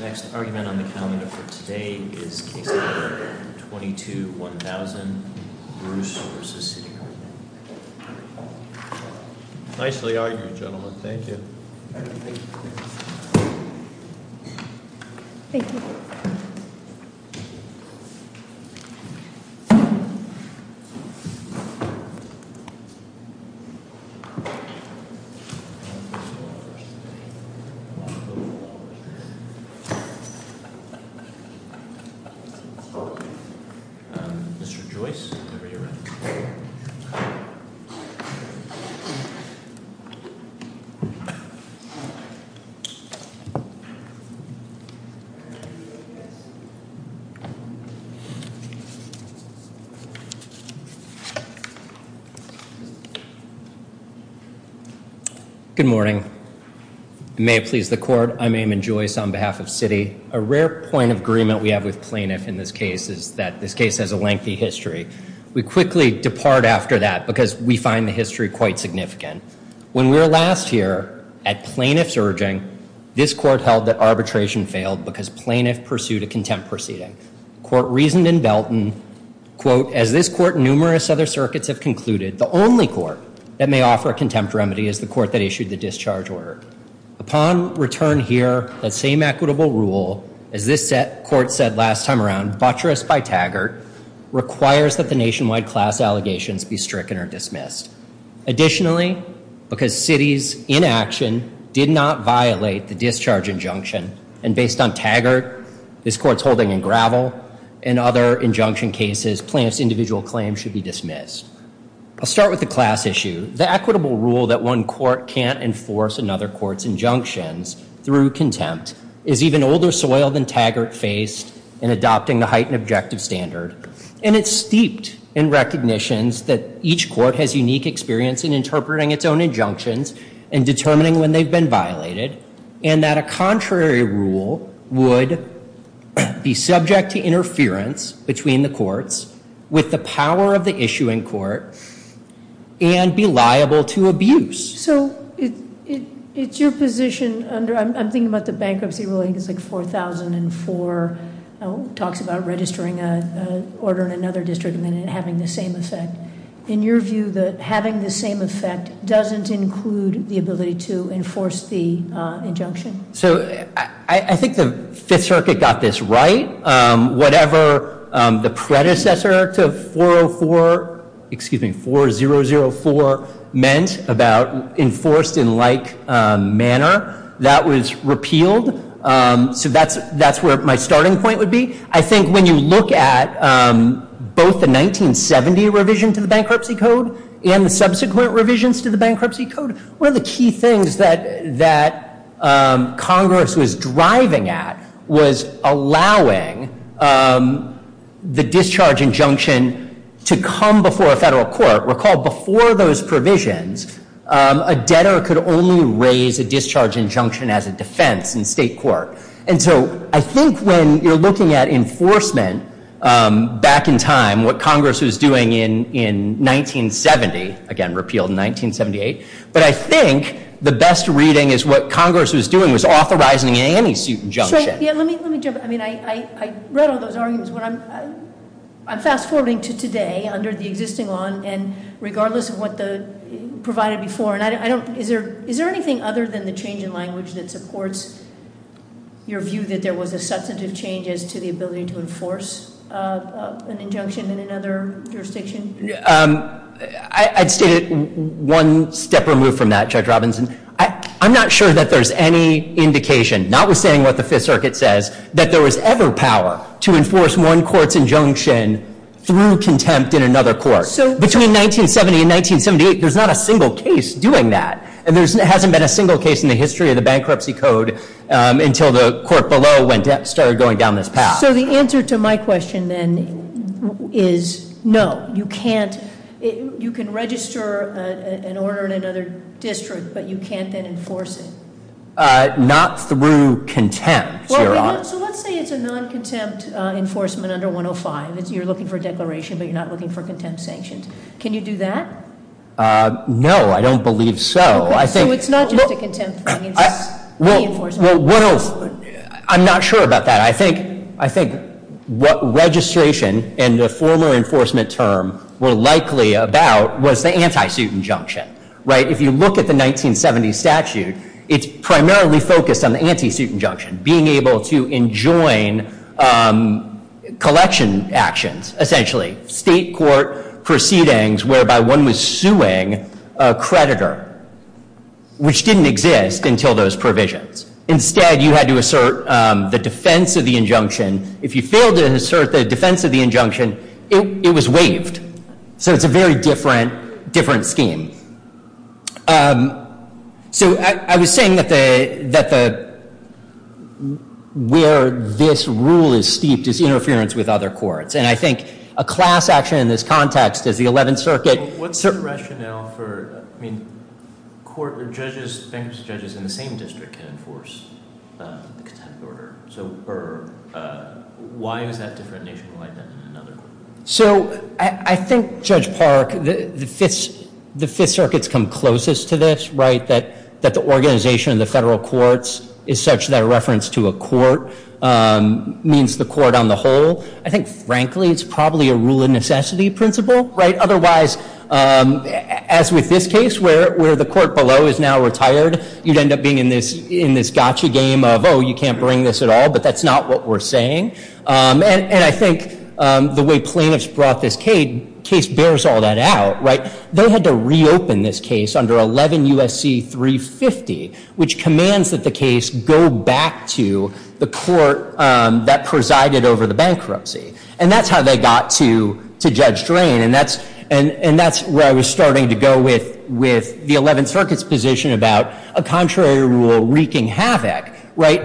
Next argument on the calendar for today is case number 22 1000. Bruce versus city. Nicely argued, gentlemen. Thank you. Thank you. Mhm. Mr. Joyce. Good morning. May it please the court. I'm aiming Joyce on behalf of city. A rare point of agreement. We have with plaintiff in this case is that this case has a lengthy history. We quickly depart after that because we find the history quite significant. When we were last year at plaintiff's urging this court held that arbitration failed because plaintiff pursued a contempt proceeding. Court reasoned in Belton quote as this court, numerous other circuits have concluded the only court that may offer contempt remedy is the court that issued the discharge order upon return here. That same equitable rule as this set court said last time around buttress by Taggart requires that the nationwide class allegations be stricken or dismissed. Additionally, because cities in action did not violate the discharge injunction and based on Taggart, this court's holding in gravel and other injunction cases, plants, individual claims should be dismissed. I'll start with the class issue. The equitable rule that one court can't enforce another court's injunctions through contempt is even older soil than Taggart faced in adopting the heightened objective standard. And it's steeped in recognitions that each court has unique experience in interpreting its own injunctions and determining when they've been violated and that a contrary rule would be subject to interference between the courts with the power of the issuing court and be liable to abuse. So it's your position under, I'm thinking about the bankruptcy ruling, it's like 4,004 talks about registering an order in another district and then having the same effect. In your view, having the same effect doesn't include the ability to enforce the injunction? So I think the Fifth Circuit got this right. Whatever the predecessor to 404, excuse me, 4004 meant about enforced in like manner, that was repealed. So that's where my starting point would be. I think when you look at both the 1970 revision to the bankruptcy code and the subsequent revisions to the bankruptcy code, one of the key things that Congress was driving at was allowing the discharge injunction to come before a federal court. Recall, before those provisions, a debtor could only raise a discharge injunction as a defense in state court. And so I think when you're looking at enforcement back in time, what Congress was doing in 1970, again, repealed in 1978. But I think the best reading is what Congress was doing was authorizing an anti-suit injunction. Yeah, let me jump in, I mean, I read all those arguments, but I'm fast forwarding to today under the existing law. And regardless of what the provided before, and I don't, is there anything other than the change in language that supports your view that there was a substantive change as to the ability to enforce an injunction in another jurisdiction? I'd state it one step removed from that, Judge Robinson. I'm not sure that there's any indication, notwithstanding what the Fifth Circuit says, that there was ever power to enforce one court's injunction through contempt in another court. Between 1970 and 1978, there's not a single case doing that. And there hasn't been a single case in the history of the bankruptcy code until the court below started going down this path. So the answer to my question then is no. You can't, you can register an order in another district, but you can't then enforce it. Not through contempt, Your Honor. So let's say it's a non-contempt enforcement under 105, you're looking for a declaration, but you're not looking for contempt sanctions. Can you do that? No, I don't believe so. I think- So it's not just a contempt thing, it's a reinforcement. Well, I'm not sure about that. I think what registration and the formal enforcement term were likely about was the anti-suit injunction, right? If you look at the 1970 statute, it's primarily focused on the anti-suit injunction, being able to enjoin collection actions, essentially. State court proceedings whereby one was suing a creditor, which didn't exist until those provisions. Instead, you had to assert the defense of the injunction. If you failed to assert the defense of the injunction, it was waived. So it's a very different scheme. So I was saying that where this rule is steeped is interference with other courts. And I think a class action in this context is the 11th Circuit- I mean, court judges, bankruptcy judges in the same district can enforce the contempt order. So why is that different nationwide than in another court? So I think, Judge Park, the Fifth Circuit's come closest to this, right? That the organization of the federal courts is such that a reference to a court means the court on the whole. I think, frankly, it's probably a rule of necessity principle, right? Otherwise, as with this case where the court below is now retired, you'd end up being in this gotcha game of, oh, you can't bring this at all, but that's not what we're saying. And I think the way plaintiffs brought this case bears all that out, right? They had to reopen this case under 11 USC 350, which commands that the case go back to the court that presided over the bankruptcy. And that's how they got to Judge Drain. And that's where I was starting to go with the 11th Circuit's position about a contrary rule wreaking havoc, right?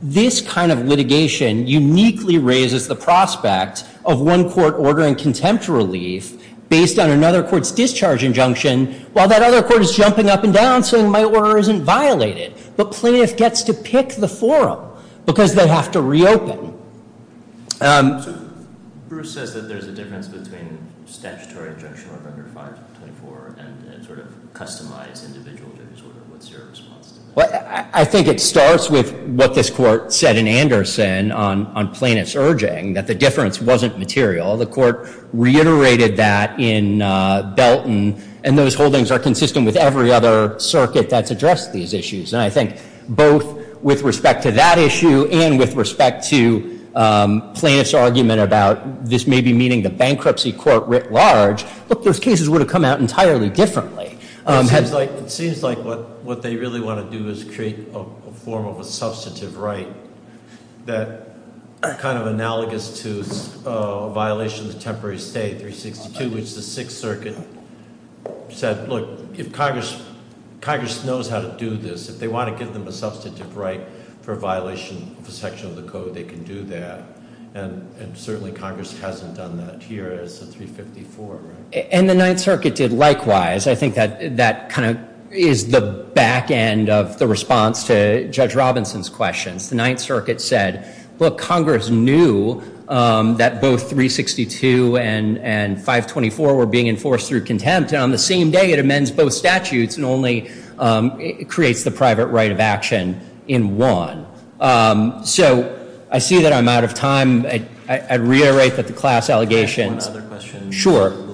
This kind of litigation uniquely raises the prospect of one court ordering contempt relief based on another court's discharge injunction, while that other court is jumping up and down, saying my order isn't violated. But plaintiff gets to pick the forum, because they have to reopen. So Bruce says that there's a difference between statutory injunction number 524 and sort of customized individual judge's order. What's your response to that? Well, I think it starts with what this court said in Anderson on plaintiff's urging, that the difference wasn't material. The court reiterated that in Belton. And those holdings are consistent with every other circuit that's addressed these issues. And I think both with respect to that issue, and with respect to plaintiff's argument about this may be meeting the bankruptcy court writ large. Look, those cases would have come out entirely differently. It seems like what they really want to do is create a form of a substantive right that kind of analogous to a violation of the temporary state, 362. Which the Sixth Circuit said, look, if Congress knows how to do this, if they want to give them a substantive right for a violation of a section of the code, they can do that. And certainly, Congress hasn't done that here as the 354, right? And the Ninth Circuit did likewise. I think that kind of is the back end of the response to Judge Robinson's questions. The Ninth Circuit said, look, Congress knew that both 362 and 524 were being enforced through contempt. And on the same day, it amends both statutes and only creates the private right of action in one. So I see that I'm out of time. I reiterate that the class allegations. Can I ask one other question? Sure.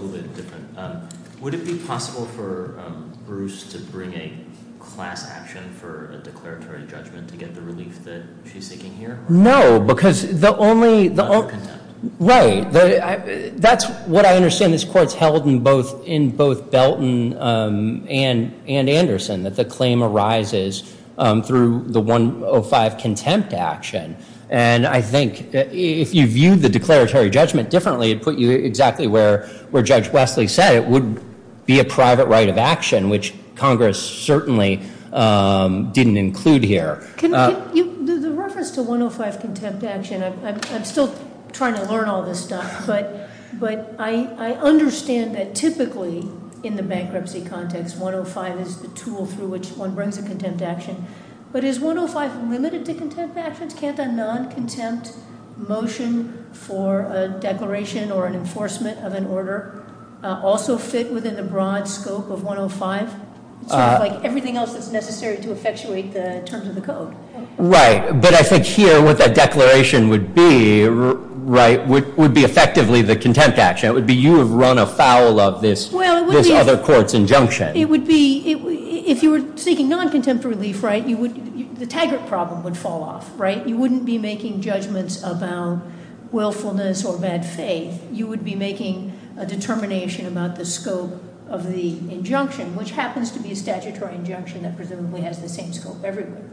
Would it be possible for Bruce to bring a class action for a declaratory judgment to get the relief that she's seeking here? No, because the only- Right. That's what I understand this court's held in both Belton and Anderson, that the claim arises through the 105 contempt action. And I think if you viewed the declaratory judgment differently, it would put you exactly where Judge Wesley said it would be a private right of action, which Congress certainly didn't include here. The reference to 105 contempt action, I'm still trying to learn all this stuff. But I understand that typically in the bankruptcy context, 105 is the tool through which one brings a contempt action. But is 105 limited to contempt actions? Can't a non-contempt motion for a declaration or an enforcement of an order also fit within the broad scope of 105? It's sort of like everything else that's necessary to effectuate the terms of the code. Right. But I think here what that declaration would be, right, would be effectively the contempt action. It would be you have run afoul of this other court's injunction. It would be, if you were seeking non-contempt relief, right, the Taggart problem would fall off, right? You wouldn't be making judgments about willfulness or bad faith. You would be making a determination about the scope of the injunction, which happens to be a statutory injunction that presumably has the same scope everywhere.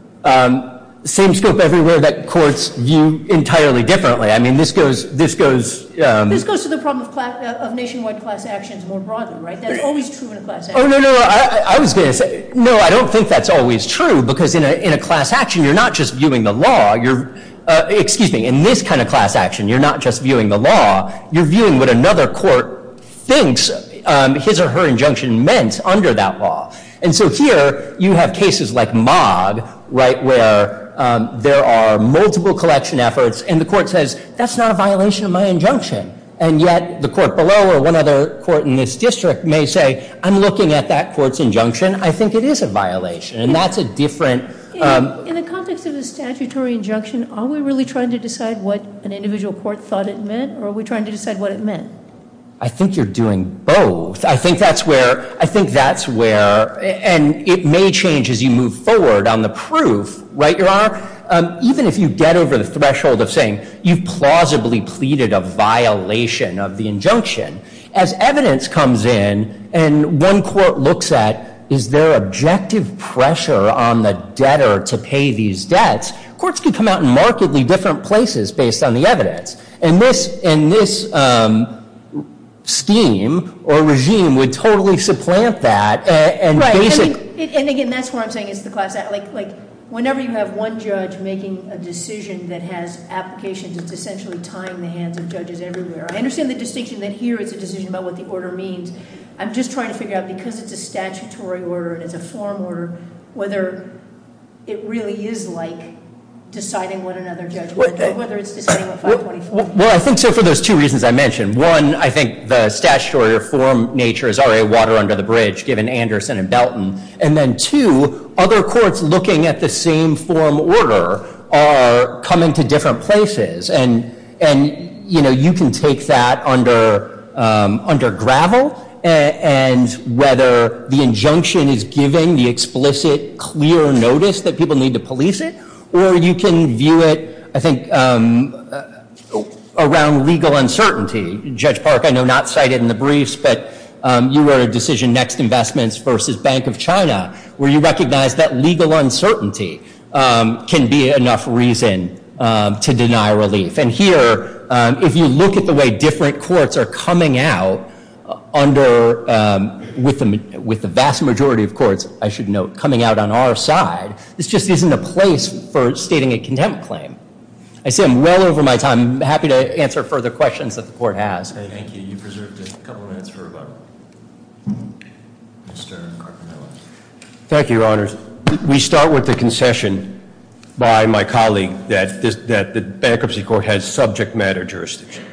Same scope everywhere that courts view entirely differently. I mean, this goes- This goes to the problem of nationwide class actions more broadly, right? That's always true in a class action. Oh, no, no. I was going to say, no, I don't think that's always true because in a class action, you're not just viewing the law. You're, excuse me, in this kind of class action, you're not just viewing the law. You're viewing what another court thinks his or her injunction meant under that law. And so here you have cases like Mog, right, where there are multiple collection efforts, and yet the court below or one other court in this district may say, I'm looking at that court's injunction. I think it is a violation, and that's a different- In the context of a statutory injunction, are we really trying to decide what an individual court thought it meant, or are we trying to decide what it meant? I think you're doing both. I think that's where- I think that's where- and it may change as you move forward on the proof, right, Your Honor? Even if you get over the threshold of saying you plausibly pleaded a violation of the injunction, as evidence comes in and one court looks at, is there objective pressure on the debtor to pay these debts, courts can come out in markedly different places based on the evidence. And this scheme or regime would totally supplant that and basically- I'm not a judge making a decision that has applications. It's essentially tying the hands of judges everywhere. I understand the distinction that here it's a decision about what the order means. I'm just trying to figure out, because it's a statutory order and it's a forum order, whether it really is like deciding what another judge- Whether it's deciding what 524- Well, I think so for those two reasons I mentioned. One, I think the statutory or forum nature is already water under the bridge, given Anderson and Belton. And then two, other courts looking at the same forum order are coming to different places. And, you know, you can take that under gravel, and whether the injunction is giving the explicit, clear notice that people need to police it, or you can view it, I think, around legal uncertainty. Judge Park, I know, not cited in the briefs, but you wrote a decision, Next Investments versus Bank of China, where you recognized that legal uncertainty can be enough reason to deny relief. And here, if you look at the way different courts are coming out under- with the vast majority of courts, I should note, coming out on our side, this just isn't a place for stating a contempt claim. I see I'm well over my time. I'm happy to answer further questions that the court has. Thank you. You preserved a couple minutes for rebuttal. Mr. Carpenter. Thank you, Your Honors. We start with the concession by my colleague that the Bankruptcy Court has subject matter jurisdiction.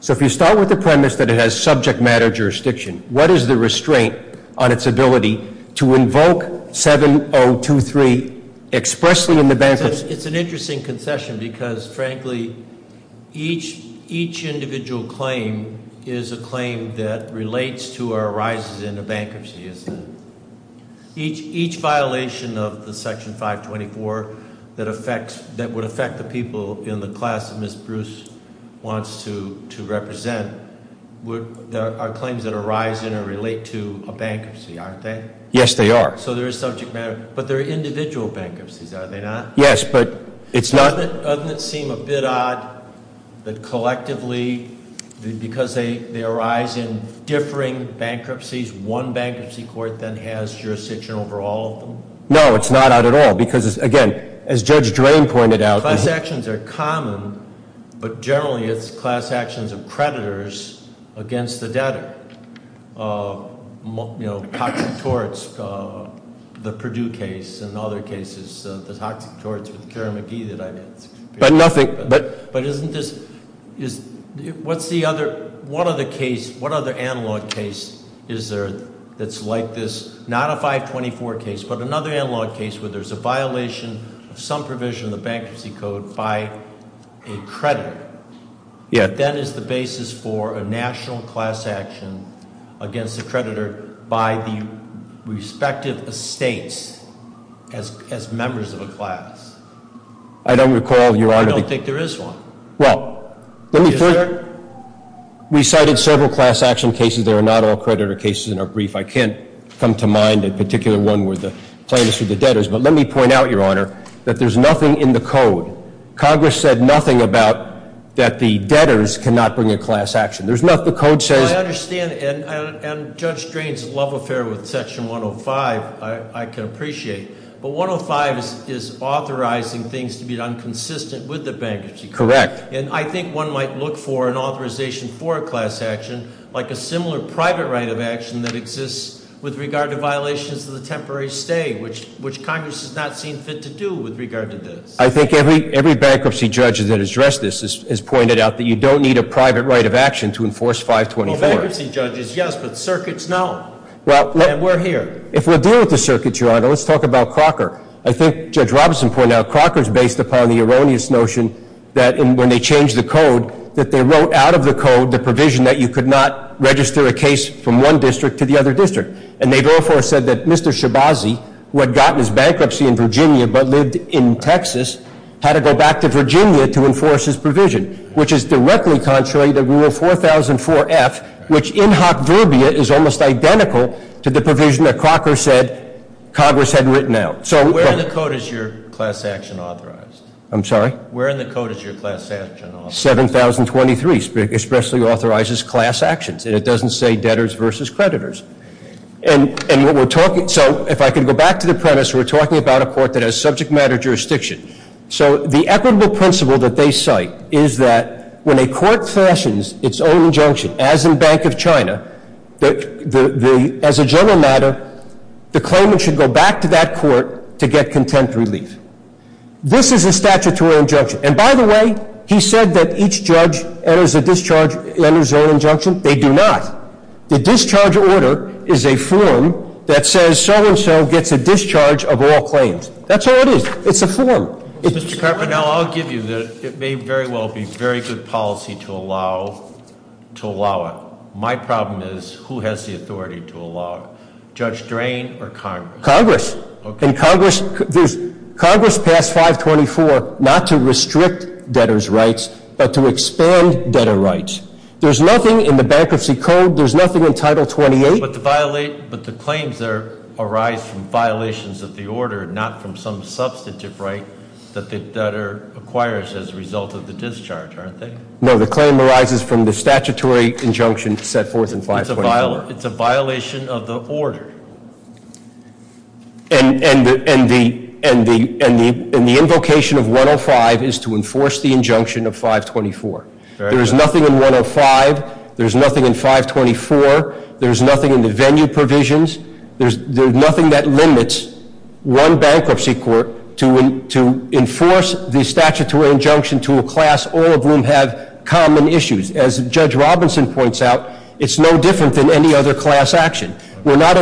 So if you start with the premise that it has subject matter jurisdiction, what is the restraint on its ability to invoke 7023 expressly in the bankruptcy? It's an interesting concession because, frankly, each individual claim is a claim that relates to or arises in a bankruptcy, isn't it? Each violation of the Section 524 that would affect the people in the class that Ms. Bruce wants to represent are claims that arise in or relate to a bankruptcy, aren't they? Yes, they are. So there is subject matter. But they're individual bankruptcies, are they not? Yes, but it's not- Doesn't it seem a bit odd that collectively, because they arise in differing bankruptcies, one bankruptcy court then has jurisdiction over all of them? No, it's not odd at all because, again, as Judge Drain pointed out- Class actions are common, but generally it's class actions of creditors against the debtor. Toxic torts, the Purdue case and other cases, the toxic torts with Karen McGee that I've had- But nothing- But isn't this, what's the other, what other case, what other analog case is there that's like this, not a 524 case, but another analog case where there's a violation of some provision of the bankruptcy code by a creditor. Yeah. But that is the basis for a national class action against a creditor by the respective estates as members of a class. I don't recall, Your Honor- I don't think there is one. Well, let me first- Is there? We cited several class action cases. There are not all creditor cases in our brief. I can't come to mind a particular one where the plaintiffs were the debtors. But let me point out, Your Honor, that there's nothing in the code. Congress said nothing about that the debtors cannot bring a class action. There's nothing. The code says- I understand. And Judge Drain's love affair with Section 105, I can appreciate. But 105 is authorizing things to be inconsistent with the bankruptcy code. Correct. And I think one might look for an authorization for a class action like a similar private right of action that exists with regard to violations of the temporary stay, which Congress has not seen fit to do with regard to this. I think every bankruptcy judge that has addressed this has pointed out that you don't need a private right of action to enforce 524. Well, bankruptcy judges, yes, but circuits, no. And we're here. If we're dealing with the circuits, Your Honor, let's talk about Crocker. I think Judge Robinson pointed out Crocker is based upon the erroneous notion that when they changed the code, that they wrote out of the code the provision that you could not register a case from one district to the other district. And they therefore said that Mr. Shabazzi, who had gotten his bankruptcy in Virginia but lived in Texas, had to go back to Virginia to enforce his provision, which is directly contrary to Rule 4004F, which in hoc verbia is almost identical to the provision that Crocker said Congress had written out. So- Where in the code is your class action authorized? I'm sorry? Where in the code is your class action authorized? 7,023 especially authorizes class actions, and it doesn't say debtors versus creditors. And what we're talking, so if I could go back to the premise, we're talking about a court that has subject matter jurisdiction. So the equitable principle that they cite is that when a court fashions its own injunction, as in Bank of China, as a general matter, the claimant should go back to that court to get contempt relief. This is a statutory injunction. And by the way, he said that each judge enters a discharge, enters their own injunction. They do not. The discharge order is a form that says so and so gets a discharge of all claims. That's all it is. It's a form. Mr. Carpenter, now I'll give you the, it may very well be very good policy to allow it. My problem is who has the authority to allow it? Judge Drain or Congress? Congress. And Congress passed 524 not to restrict debtors' rights, but to expand debtor rights. There's nothing in the Bankruptcy Code, there's nothing in Title 28. But the claims arise from violations of the order, not from some substantive right that the debtor acquires as a result of the discharge, aren't they? No, the claim arises from the statutory injunction set forth in 524. It's a violation of the order. And the invocation of 105 is to enforce the injunction of 524. There is nothing in 105. There's nothing in 524. There's nothing in the venue provisions. There's nothing that limits one bankruptcy court to enforce the statutory injunction to a class, all of whom have common issues. As Judge Robinson points out, it's no different than any other class action. We're not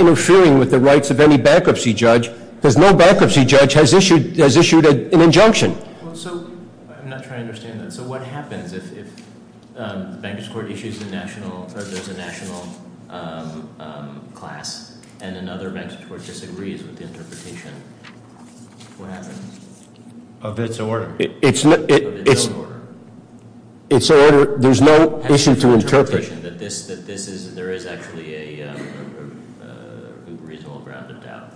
interfering with the rights of any bankruptcy judge because no bankruptcy judge has issued an injunction. So I'm not trying to understand that. So what happens if the bankers court issues a national, or there's a national class and another bankers court disagrees with the interpretation? What happens? Of its order. Of its own order. There's no issue to interpret. That this is, there is actually a reasonable ground of doubt.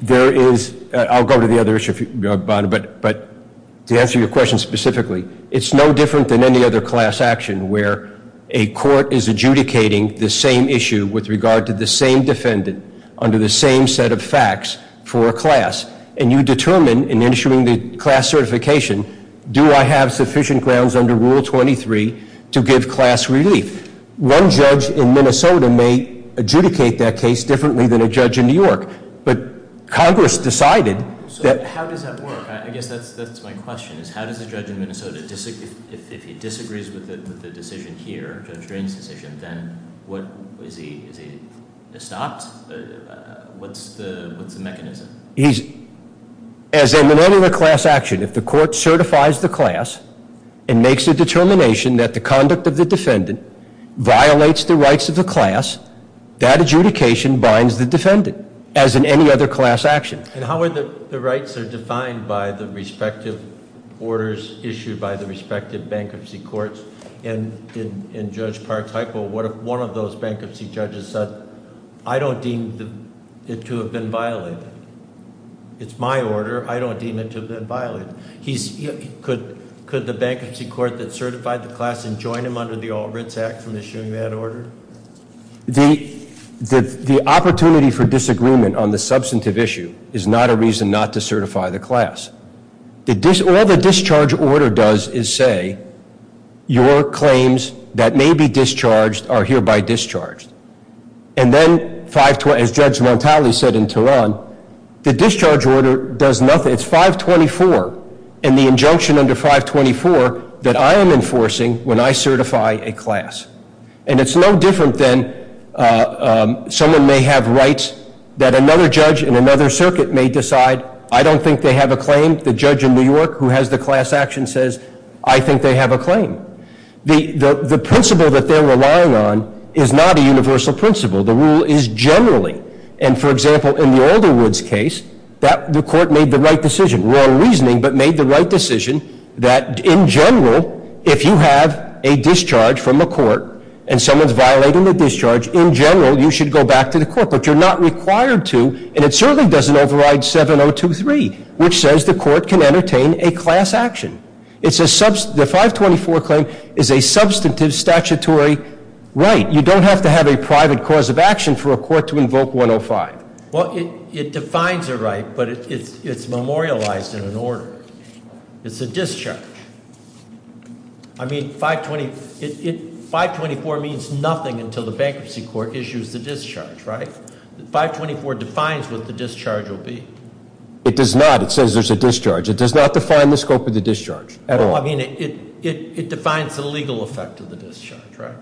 There is, I'll go to the other issue, but to answer your question specifically, it's no different than any other class action where a court is adjudicating the same issue with regard to the same defendant and issuing the class certification. Do I have sufficient grounds under Rule 23 to give class relief? One judge in Minnesota may adjudicate that case differently than a judge in New York. But Congress decided that- So how does that work? I guess that's my question. How does a judge in Minnesota, if he disagrees with the decision here, Judge Drain's decision, then is he stopped? What's the mechanism? He's, as in the regular class action, if the court certifies the class and makes a determination that the conduct of the defendant violates the rights of the class, that adjudication binds the defendant as in any other class action. And how are the rights are defined by the respective orders issued by the respective bankruptcy courts? And in Judge Park's hypo, what if one of those bankruptcy judges said, I don't deem it to have been violated. It's my order. I don't deem it to have been violated. Could the bankruptcy court that certified the class and join him under the All Writs Act from issuing that order? The opportunity for disagreement on the substantive issue is not a reason not to certify the class. All the discharge order does is say, your claims that may be discharged are hereby discharged. And then, as Judge Montali said in Tehran, the discharge order does nothing. It's 524 and the injunction under 524 that I am enforcing when I certify a class. And it's no different than someone may have rights that another judge in another circuit may decide, I don't think they have a claim. The judge in New York who has the class action says, I think they have a claim. The principle that they're relying on is not a universal principle. The rule is generally. And, for example, in the Alderwoods case, the court made the right decision. Wrong reasoning, but made the right decision that, in general, if you have a discharge from a court and someone's violating the discharge, in general, you should go back to the court. But you're not required to, and it certainly doesn't override 7023, which says the court can entertain a class action. The 524 claim is a substantive statutory right. You don't have to have a private cause of action for a court to invoke 105. Well, it defines a right, but it's memorialized in an order. It's a discharge. I mean, 524 means nothing until the bankruptcy court issues the discharge, right? 524 defines what the discharge will be. It does not. It says there's a discharge. It does not define the scope of the discharge at all. Well, I mean, it defines the legal effect of the discharge, right?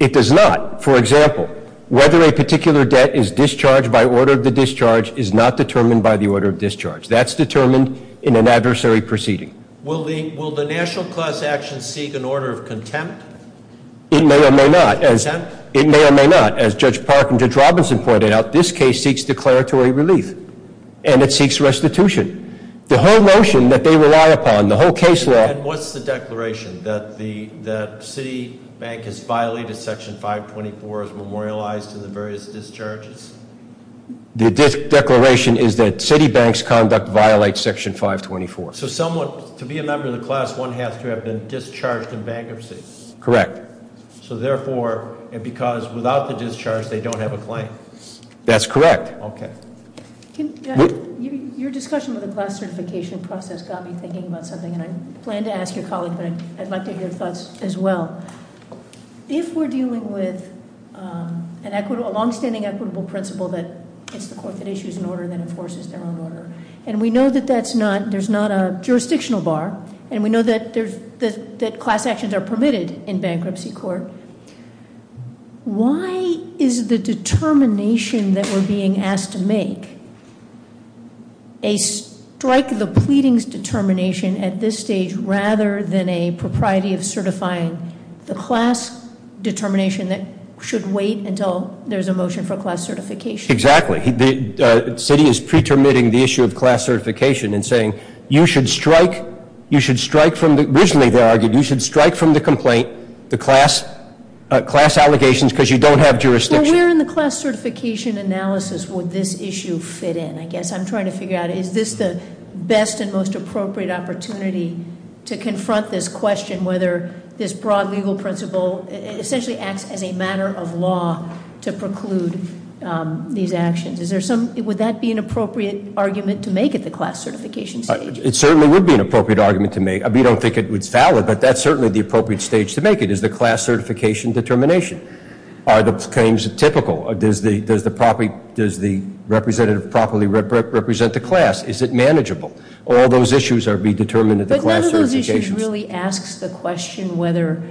It does not. For example, whether a particular debt is discharged by order of the discharge is not determined by the order of discharge. That's determined in an adversary proceeding. Will the national class action seek an order of contempt? It may or may not. Contempt? It may or may not. As Judge Park and Judge Robinson pointed out, this case seeks declaratory relief. And it seeks restitution. The whole notion that they rely upon, the whole case law- And what's the declaration? That the city bank has violated section 524 as memorialized in the various discharges? The declaration is that city bank's conduct violates section 524. So someone, to be a member of the class, one has to have been discharged in bankruptcy? Correct. So therefore, because without the discharge, they don't have a claim? That's correct. Okay. Your discussion with the class certification process got me thinking about something. And I plan to ask your colleague, but I'd like to hear your thoughts as well. If we're dealing with a long-standing equitable principle that it's the court that issues an order that enforces their own order, and we know that there's not a jurisdictional bar, and we know that class actions are permitted in bankruptcy court, why is the determination that we're being asked to make, a strike the pleadings determination at this stage rather than a propriety of certifying the class determination that should wait until there's a motion for class certification? Exactly. The city is pretermitting the issue of class certification and saying you should strike, you should strike from the, originally they argued you should strike from the complaint, the class allegations because you don't have jurisdiction. Where in the class certification analysis would this issue fit in? I guess I'm trying to figure out, is this the best and most appropriate opportunity to confront this question, whether this broad legal principle essentially acts as a matter of law to preclude these actions? Would that be an appropriate argument to make at the class certification stage? It certainly would be an appropriate argument to make. We don't think it's valid, but that's certainly the appropriate stage to make it, is the class certification determination. Are the claims typical? Does the representative properly represent the class? Is it manageable? All those issues are being determined at the class certifications. But none of those issues really asks the question whether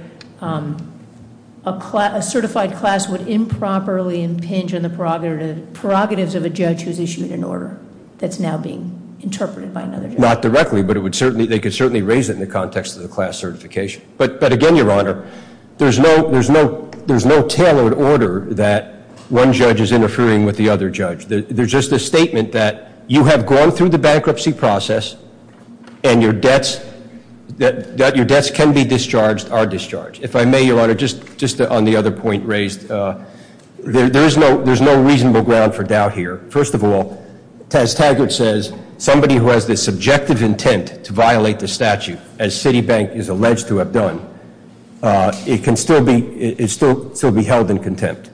a certified class would improperly impinge on the prerogatives of a judge who's issued an order that's now being interpreted by another judge. Not directly, but they could certainly raise it in the context of the class certification. But again, Your Honor, there's no tailored order that one judge is interfering with the other judge. There's just a statement that you have gone through the bankruptcy process and your debts can be discharged are discharged. If I may, Your Honor, just on the other point raised, there's no reasonable ground for doubt here. First of all, Taz Taggart says somebody who has the subjective intent to violate the statute as Citibank is alleged to have done, it can still be held in contempt.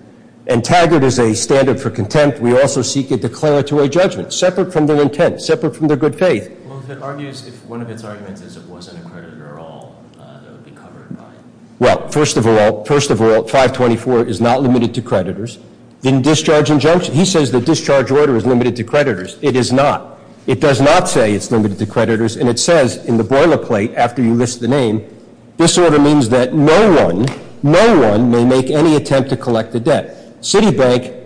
And Taggart is a standard for contempt. We also seek a declaratory judgment separate from their intent, separate from their good faith. Well, if it argues if one of its arguments is it wasn't a creditor at all, it would be covered by it. Well, first of all, 524 is not limited to creditors. In discharge injunction, he says the discharge order is limited to creditors. It is not. It does not say it's limited to creditors. And it says in the boilerplate after you list the name, this order means that no one, no one may make any attempt to collect the debt. Citibank,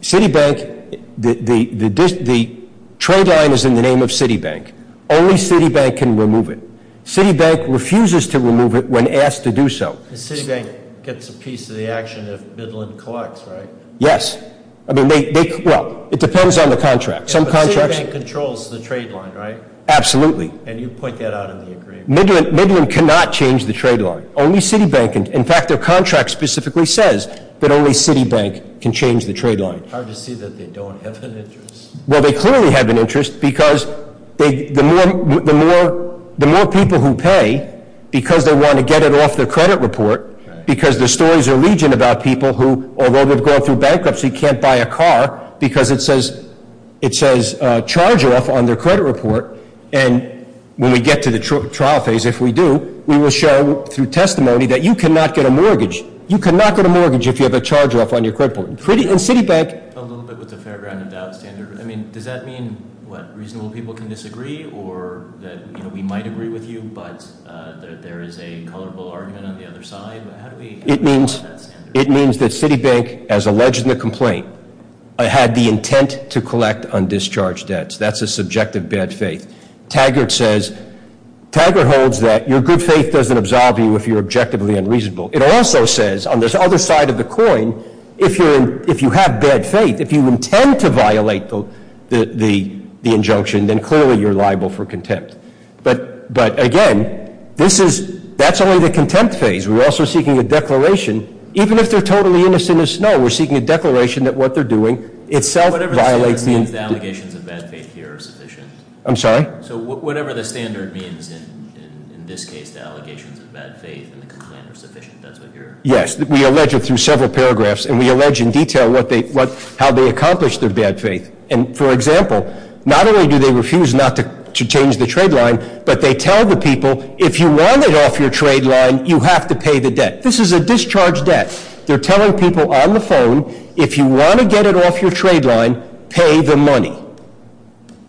Citibank, the trade line is in the name of Citibank. Only Citibank can remove it. Citibank refuses to remove it when asked to do so. Citibank gets a piece of the action if Midland collects, right? Yes. I mean, they, well, it depends on the contract. Yeah, but Citibank controls the trade line, right? Absolutely. And you point that out in the agreement. Midland cannot change the trade line. Only Citibank can. In fact, their contract specifically says that only Citibank can change the trade line. Hard to see that they don't have an interest. Well, they clearly have an interest because the more people who pay because they want to get it off their credit report, because their stories are legion about people who, although they've gone through bankruptcy, can't buy a car because it says charge off on their credit report. And when we get to the trial phase, if we do, we will show through testimony that you cannot get a mortgage. You cannot get a mortgage if you have a charge off on your credit report. And Citibank. A little bit with the fair ground and doubt standard. I mean, does that mean, what, reasonable people can disagree or that, you know, we might agree with you, but there is a culpable argument on the other side? How do we apply that standard? It means that Citibank, as alleged in the complaint, had the intent to collect undischarged debts. That's a subjective bad faith. Taggart says, Taggart holds that your good faith doesn't absolve you if you're objectively unreasonable. It also says, on this other side of the coin, if you have bad faith, if you intend to violate the injunction, then clearly you're liable for contempt. But, again, this is, that's only the contempt phase. We're also seeking a declaration. Even if they're totally innocent as snow, we're seeking a declaration that what they're doing itself violates the- Whatever the standard means, the allegations of bad faith here are sufficient. I'm sorry? So whatever the standard means in this case, the allegations of bad faith in the complaint are sufficient. That's what you're- Yes. We allege it through several paragraphs, and we allege in detail what they, how they accomplish their bad faith. And, for example, not only do they refuse not to change the trade line, but they tell the people, if you want it off your trade line, you have to pay the debt. This is a discharged debt. They're telling people on the phone, if you want to get it off your trade line, pay the money.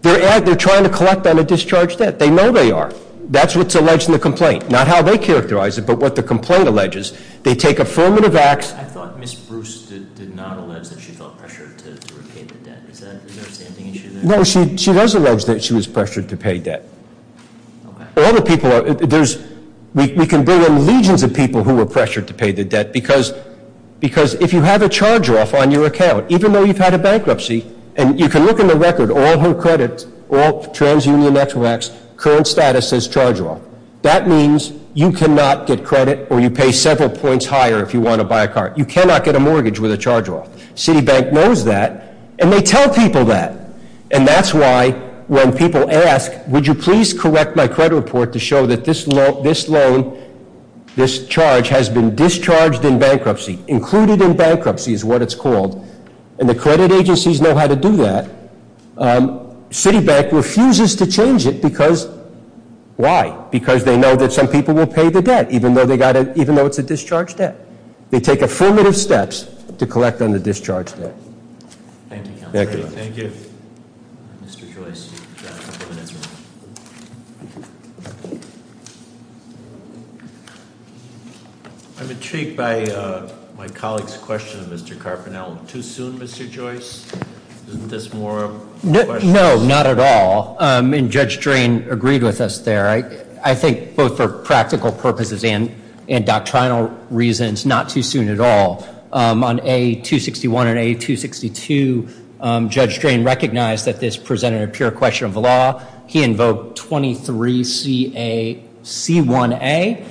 They're trying to collect on a discharged debt. They know they are. That's what's alleged in the complaint. Not how they characterize it, but what the complaint alleges. They take affirmative acts- I thought Ms. Bruce did not allege that she felt pressured to repay the debt. Is that, is there a standing issue there? No, she does allege that she was pressured to pay debt. All the people are, there's, we can bring in legions of people who were pressured to pay the debt because, because if you have a charge off on your account, even though you've had a bankruptcy, and you can look in the record, all her credit, all TransUnion Ex-Racts, current status says charge off. That means you cannot get credit or you pay several points higher if you want to buy a car. You cannot get a mortgage with a charge off. Citibank knows that, and they tell people that. And that's why when people ask, would you please correct my credit report to show that this loan, this charge has been discharged in bankruptcy, included in bankruptcy is what it's called, and the credit agencies know how to do that, Citibank refuses to change it because, why? Because they know that some people will pay the debt, even though it's a discharged debt. They take affirmative steps to collect on the discharged debt. Thank you. Thank you. Thank you. Mr. Joyce. I'm intrigued by my colleague's question of Mr. Carpenel. Too soon, Mr. Joyce? Isn't this more of a question? No, not at all. And Judge Drain agreed with us there. I think both for practical purposes and doctrinal reasons, not too soon at all. On A261 and A262, Judge Drain recognized that this presented a pure question of the law. He invoked 23C1A,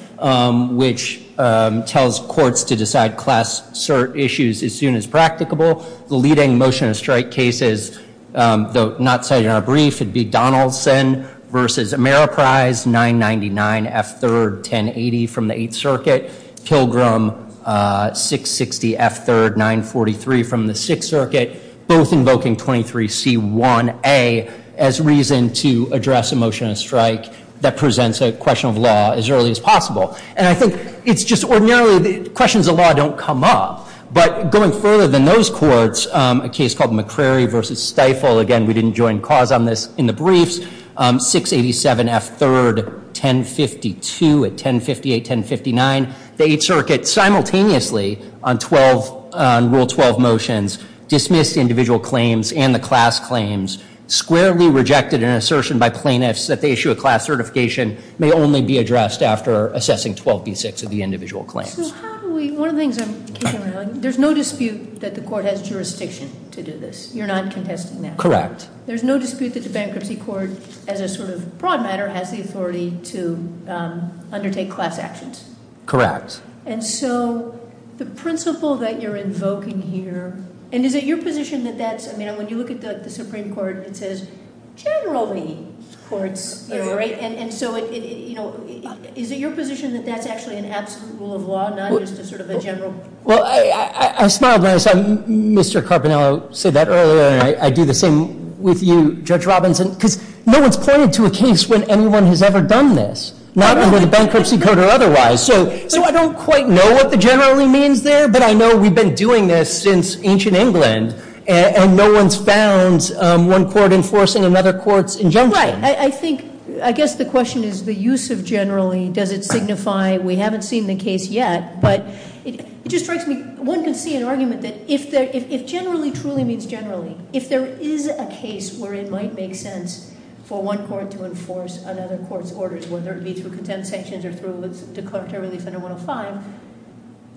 which tells courts to decide class cert issues as soon as practicable. The leading motion of strike cases, though not cited in our brief, would be Donaldson v. Ameriprise, 999F3, 1080 from the Eighth Circuit, Pilgrim, 660F3, 943 from the Sixth Circuit, both invoking 23C1A as reason to address a motion of strike that presents a question of law as early as possible. And I think it's just ordinarily, questions of law don't come up. But going further than those courts, a case called McCrary v. Stiefel, again, we didn't join cause on this in the briefs, 687F3, 1052 at 1058-1059, the Eighth Circuit simultaneously on Rule 12 motions dismissed individual claims and the class claims, squarely rejected an assertion by plaintiffs that the issue of class certification may only be addressed after assessing 12B6 of the individual claims. So how do we, one of the things I'm kicking around, there's no dispute that the court has jurisdiction to do this. You're not contesting that? Correct. There's no dispute that the bankruptcy court, as a sort of broad matter, has the authority to undertake class actions? Correct. And so the principle that you're invoking here, and is it your position that that's, I mean, when you look at the Supreme Court, it says generally courts, right? And so is it your position that that's actually an absolute rule of law, not just a sort of a general? Well, I smiled when I said Mr. Carpinello said that earlier, and I do the same with you, Judge Robinson. because no one's pointed to a case when anyone has ever done this, not under the bankruptcy code or otherwise. So I don't quite know what the generally means there, but I know we've been doing this since ancient England. And no one's found one court enforcing another court's injunction. Right, I think, I guess the question is the use of generally, does it signify, we haven't seen the case yet, but it just strikes me, one can see an argument that if generally truly means generally, if there is a case where it might make sense for one court to enforce another court's orders, whether it be through contempt sanctions or through the declaratory relief under 105,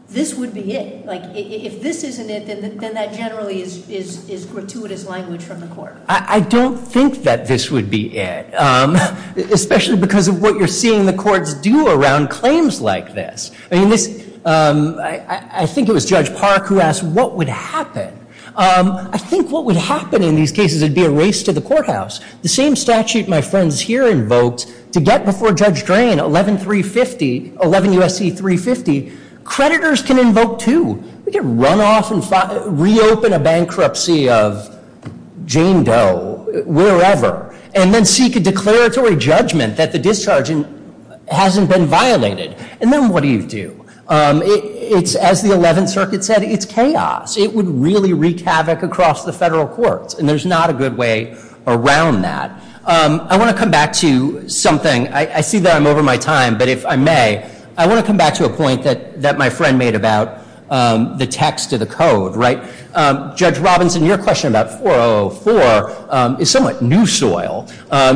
this would be it. Like, if this isn't it, then that generally is gratuitous language from the court. I don't think that this would be it, especially because of what you're seeing the courts do around claims like this. I mean, this, I think it was Judge Park who asked what would happen. I think what would happen in these cases would be a race to the courthouse. The same statute my friends here invoked to get before Judge Drain, 11-350, 11 U.S.C. 350, creditors can invoke too. We can run off and reopen a bankruptcy of Jane Doe, wherever. And then seek a declaratory judgment that the discharging hasn't been violated. And then what do you do? It's, as the 11th Circuit said, it's chaos. It would really wreak havoc across the federal courts, and there's not a good way around that. I want to come back to something. I see that I'm over my time, but if I may, I want to come back to a point that my friend made about the text of the code, right? Judge Robinson, your question about 4004 is somewhat new soil.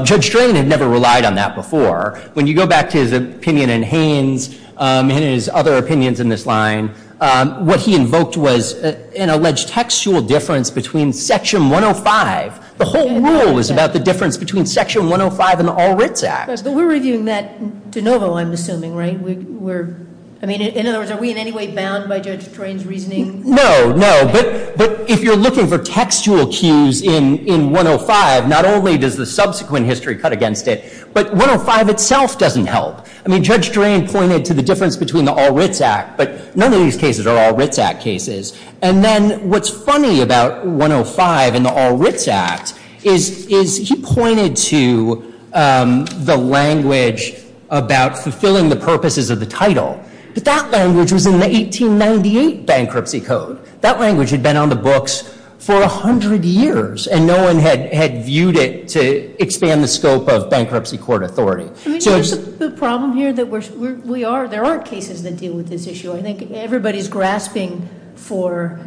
Judge Drain had never relied on that before. When you go back to his opinion in Haynes, and his other opinions in this line, what he invoked was an alleged textual difference between section 105. The whole rule was about the difference between section 105 and the All Writs Act. But we're reviewing that de novo, I'm assuming, right? We're, I mean, in other words, are we in any way bound by Judge Drain's reasoning? No, no, but if you're looking for textual cues in 105, not only does the subsequent history cut against it, but 105 itself doesn't help. I mean, Judge Drain pointed to the difference between the All Writs Act, but none of these cases are All Writs Act cases. And then what's funny about 105 and the All Writs Act is he pointed to the language about fulfilling the purposes of the title. But that language was in the 1898 bankruptcy code. That language had been on the books for 100 years, and no one had viewed it to expand the scope of bankruptcy court authority. So it's- The problem here that we are, there are cases that deal with this issue. I think everybody's grasping for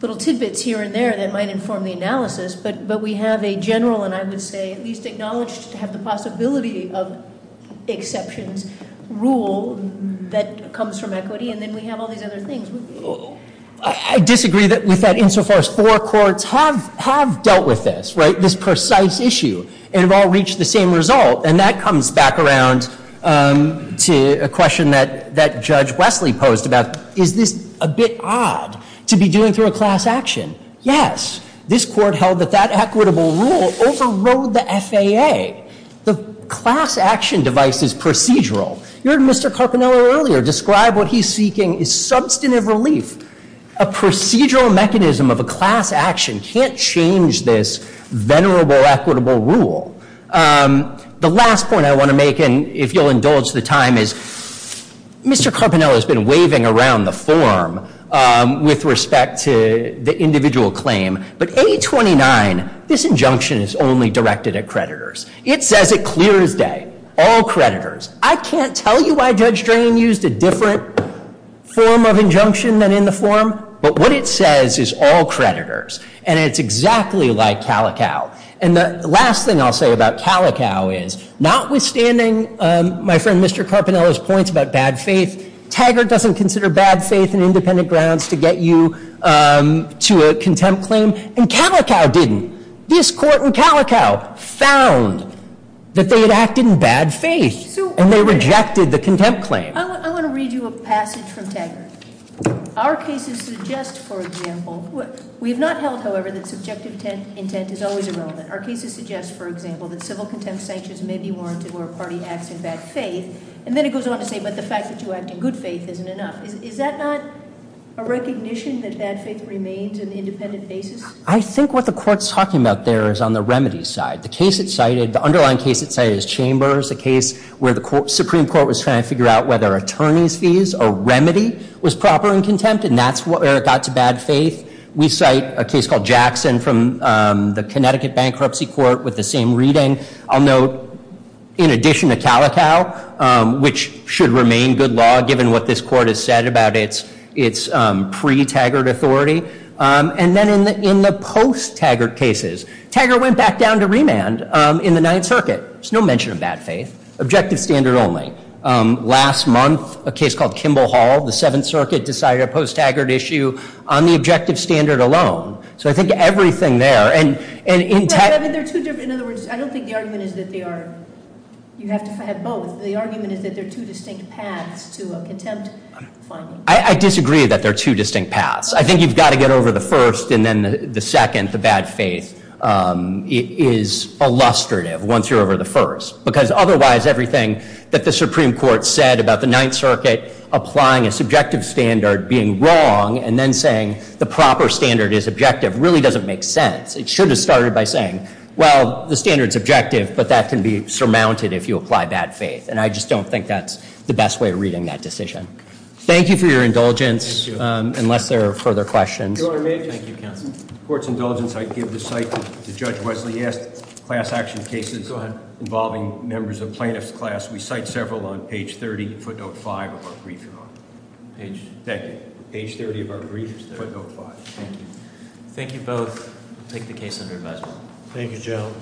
little tidbits here and there that might inform the analysis. But we have a general, and I would say, at least acknowledged to have the possibility of exceptions rule that comes from equity, and then we have all these other things. I disagree with that insofar as four courts have dealt with this, right? This precise issue, and have all reached the same result. And that comes back around to a question that Judge Wesley posed about, is this a bit odd to be doing through a class action? Yes, this court held that that equitable rule overrode the FAA. The class action device is procedural. You heard Mr. Carpinello earlier describe what he's seeking is substantive relief. A procedural mechanism of a class action can't change this venerable, equitable rule. The last point I want to make, and if you'll indulge the time, is Mr. Carpinello's point about the individual claim, but A29, this injunction is only directed at creditors. It says it clear as day, all creditors. I can't tell you why Judge Drain used a different form of injunction than in the form, but what it says is all creditors, and it's exactly like Calico. And the last thing I'll say about Calico is, notwithstanding my friend Mr. Carpinello's points about bad faith, Taggart doesn't consider bad faith and to a contempt claim, and Calico didn't. This court in Calico found that they had acted in bad faith, and they rejected the contempt claim. I want to read you a passage from Taggart. Our cases suggest, for example, we have not held, however, that subjective intent is always irrelevant. Our cases suggest, for example, that civil contempt sanctions may be warranted where a party acts in bad faith. And then it goes on to say, but the fact that you act in good faith isn't enough. Is that not a recognition that bad faith remains an independent basis? I think what the court's talking about there is on the remedy side. The underlying case it cited is Chambers, a case where the Supreme Court was trying to figure out whether attorney's fees or remedy was proper in contempt, and that's where it got to bad faith. We cite a case called Jackson from the Connecticut Bankruptcy Court with the same reading. I'll note, in addition to Calico, which should remain good law given what this court has said about its pre-Taggart authority, and then in the post-Taggart cases. Taggart went back down to remand in the Ninth Circuit. There's no mention of bad faith, objective standard only. Last month, a case called Kimball Hall, the Seventh Circuit, decided a post-Taggart issue on the objective standard alone. So I think everything there, and in- In other words, I don't think the argument is that they are, you have to have both. The argument is that there are two distinct paths to a contempt finding. I disagree that there are two distinct paths. I think you've got to get over the first, and then the second, the bad faith, is illustrative once you're over the first. Because otherwise, everything that the Supreme Court said about the Ninth Circuit applying a subjective standard being wrong, and then saying the proper standard is objective, really doesn't make sense. It should have started by saying, well, the standard's objective, but that can be surmounted if you apply bad faith. And I just don't think that's the best way of reading that decision. Thank you for your indulgence, unless there are further questions. Thank you, counsel. Court's indulgence, I give the site to Judge Wesley Est, class action cases involving members of plaintiff's class. We cite several on page 30, footnote 5 of our brief. Thank you. Page 30 of our brief, footnote 5, thank you. Thank you both. Take the case under advisement. Thank you, Joe.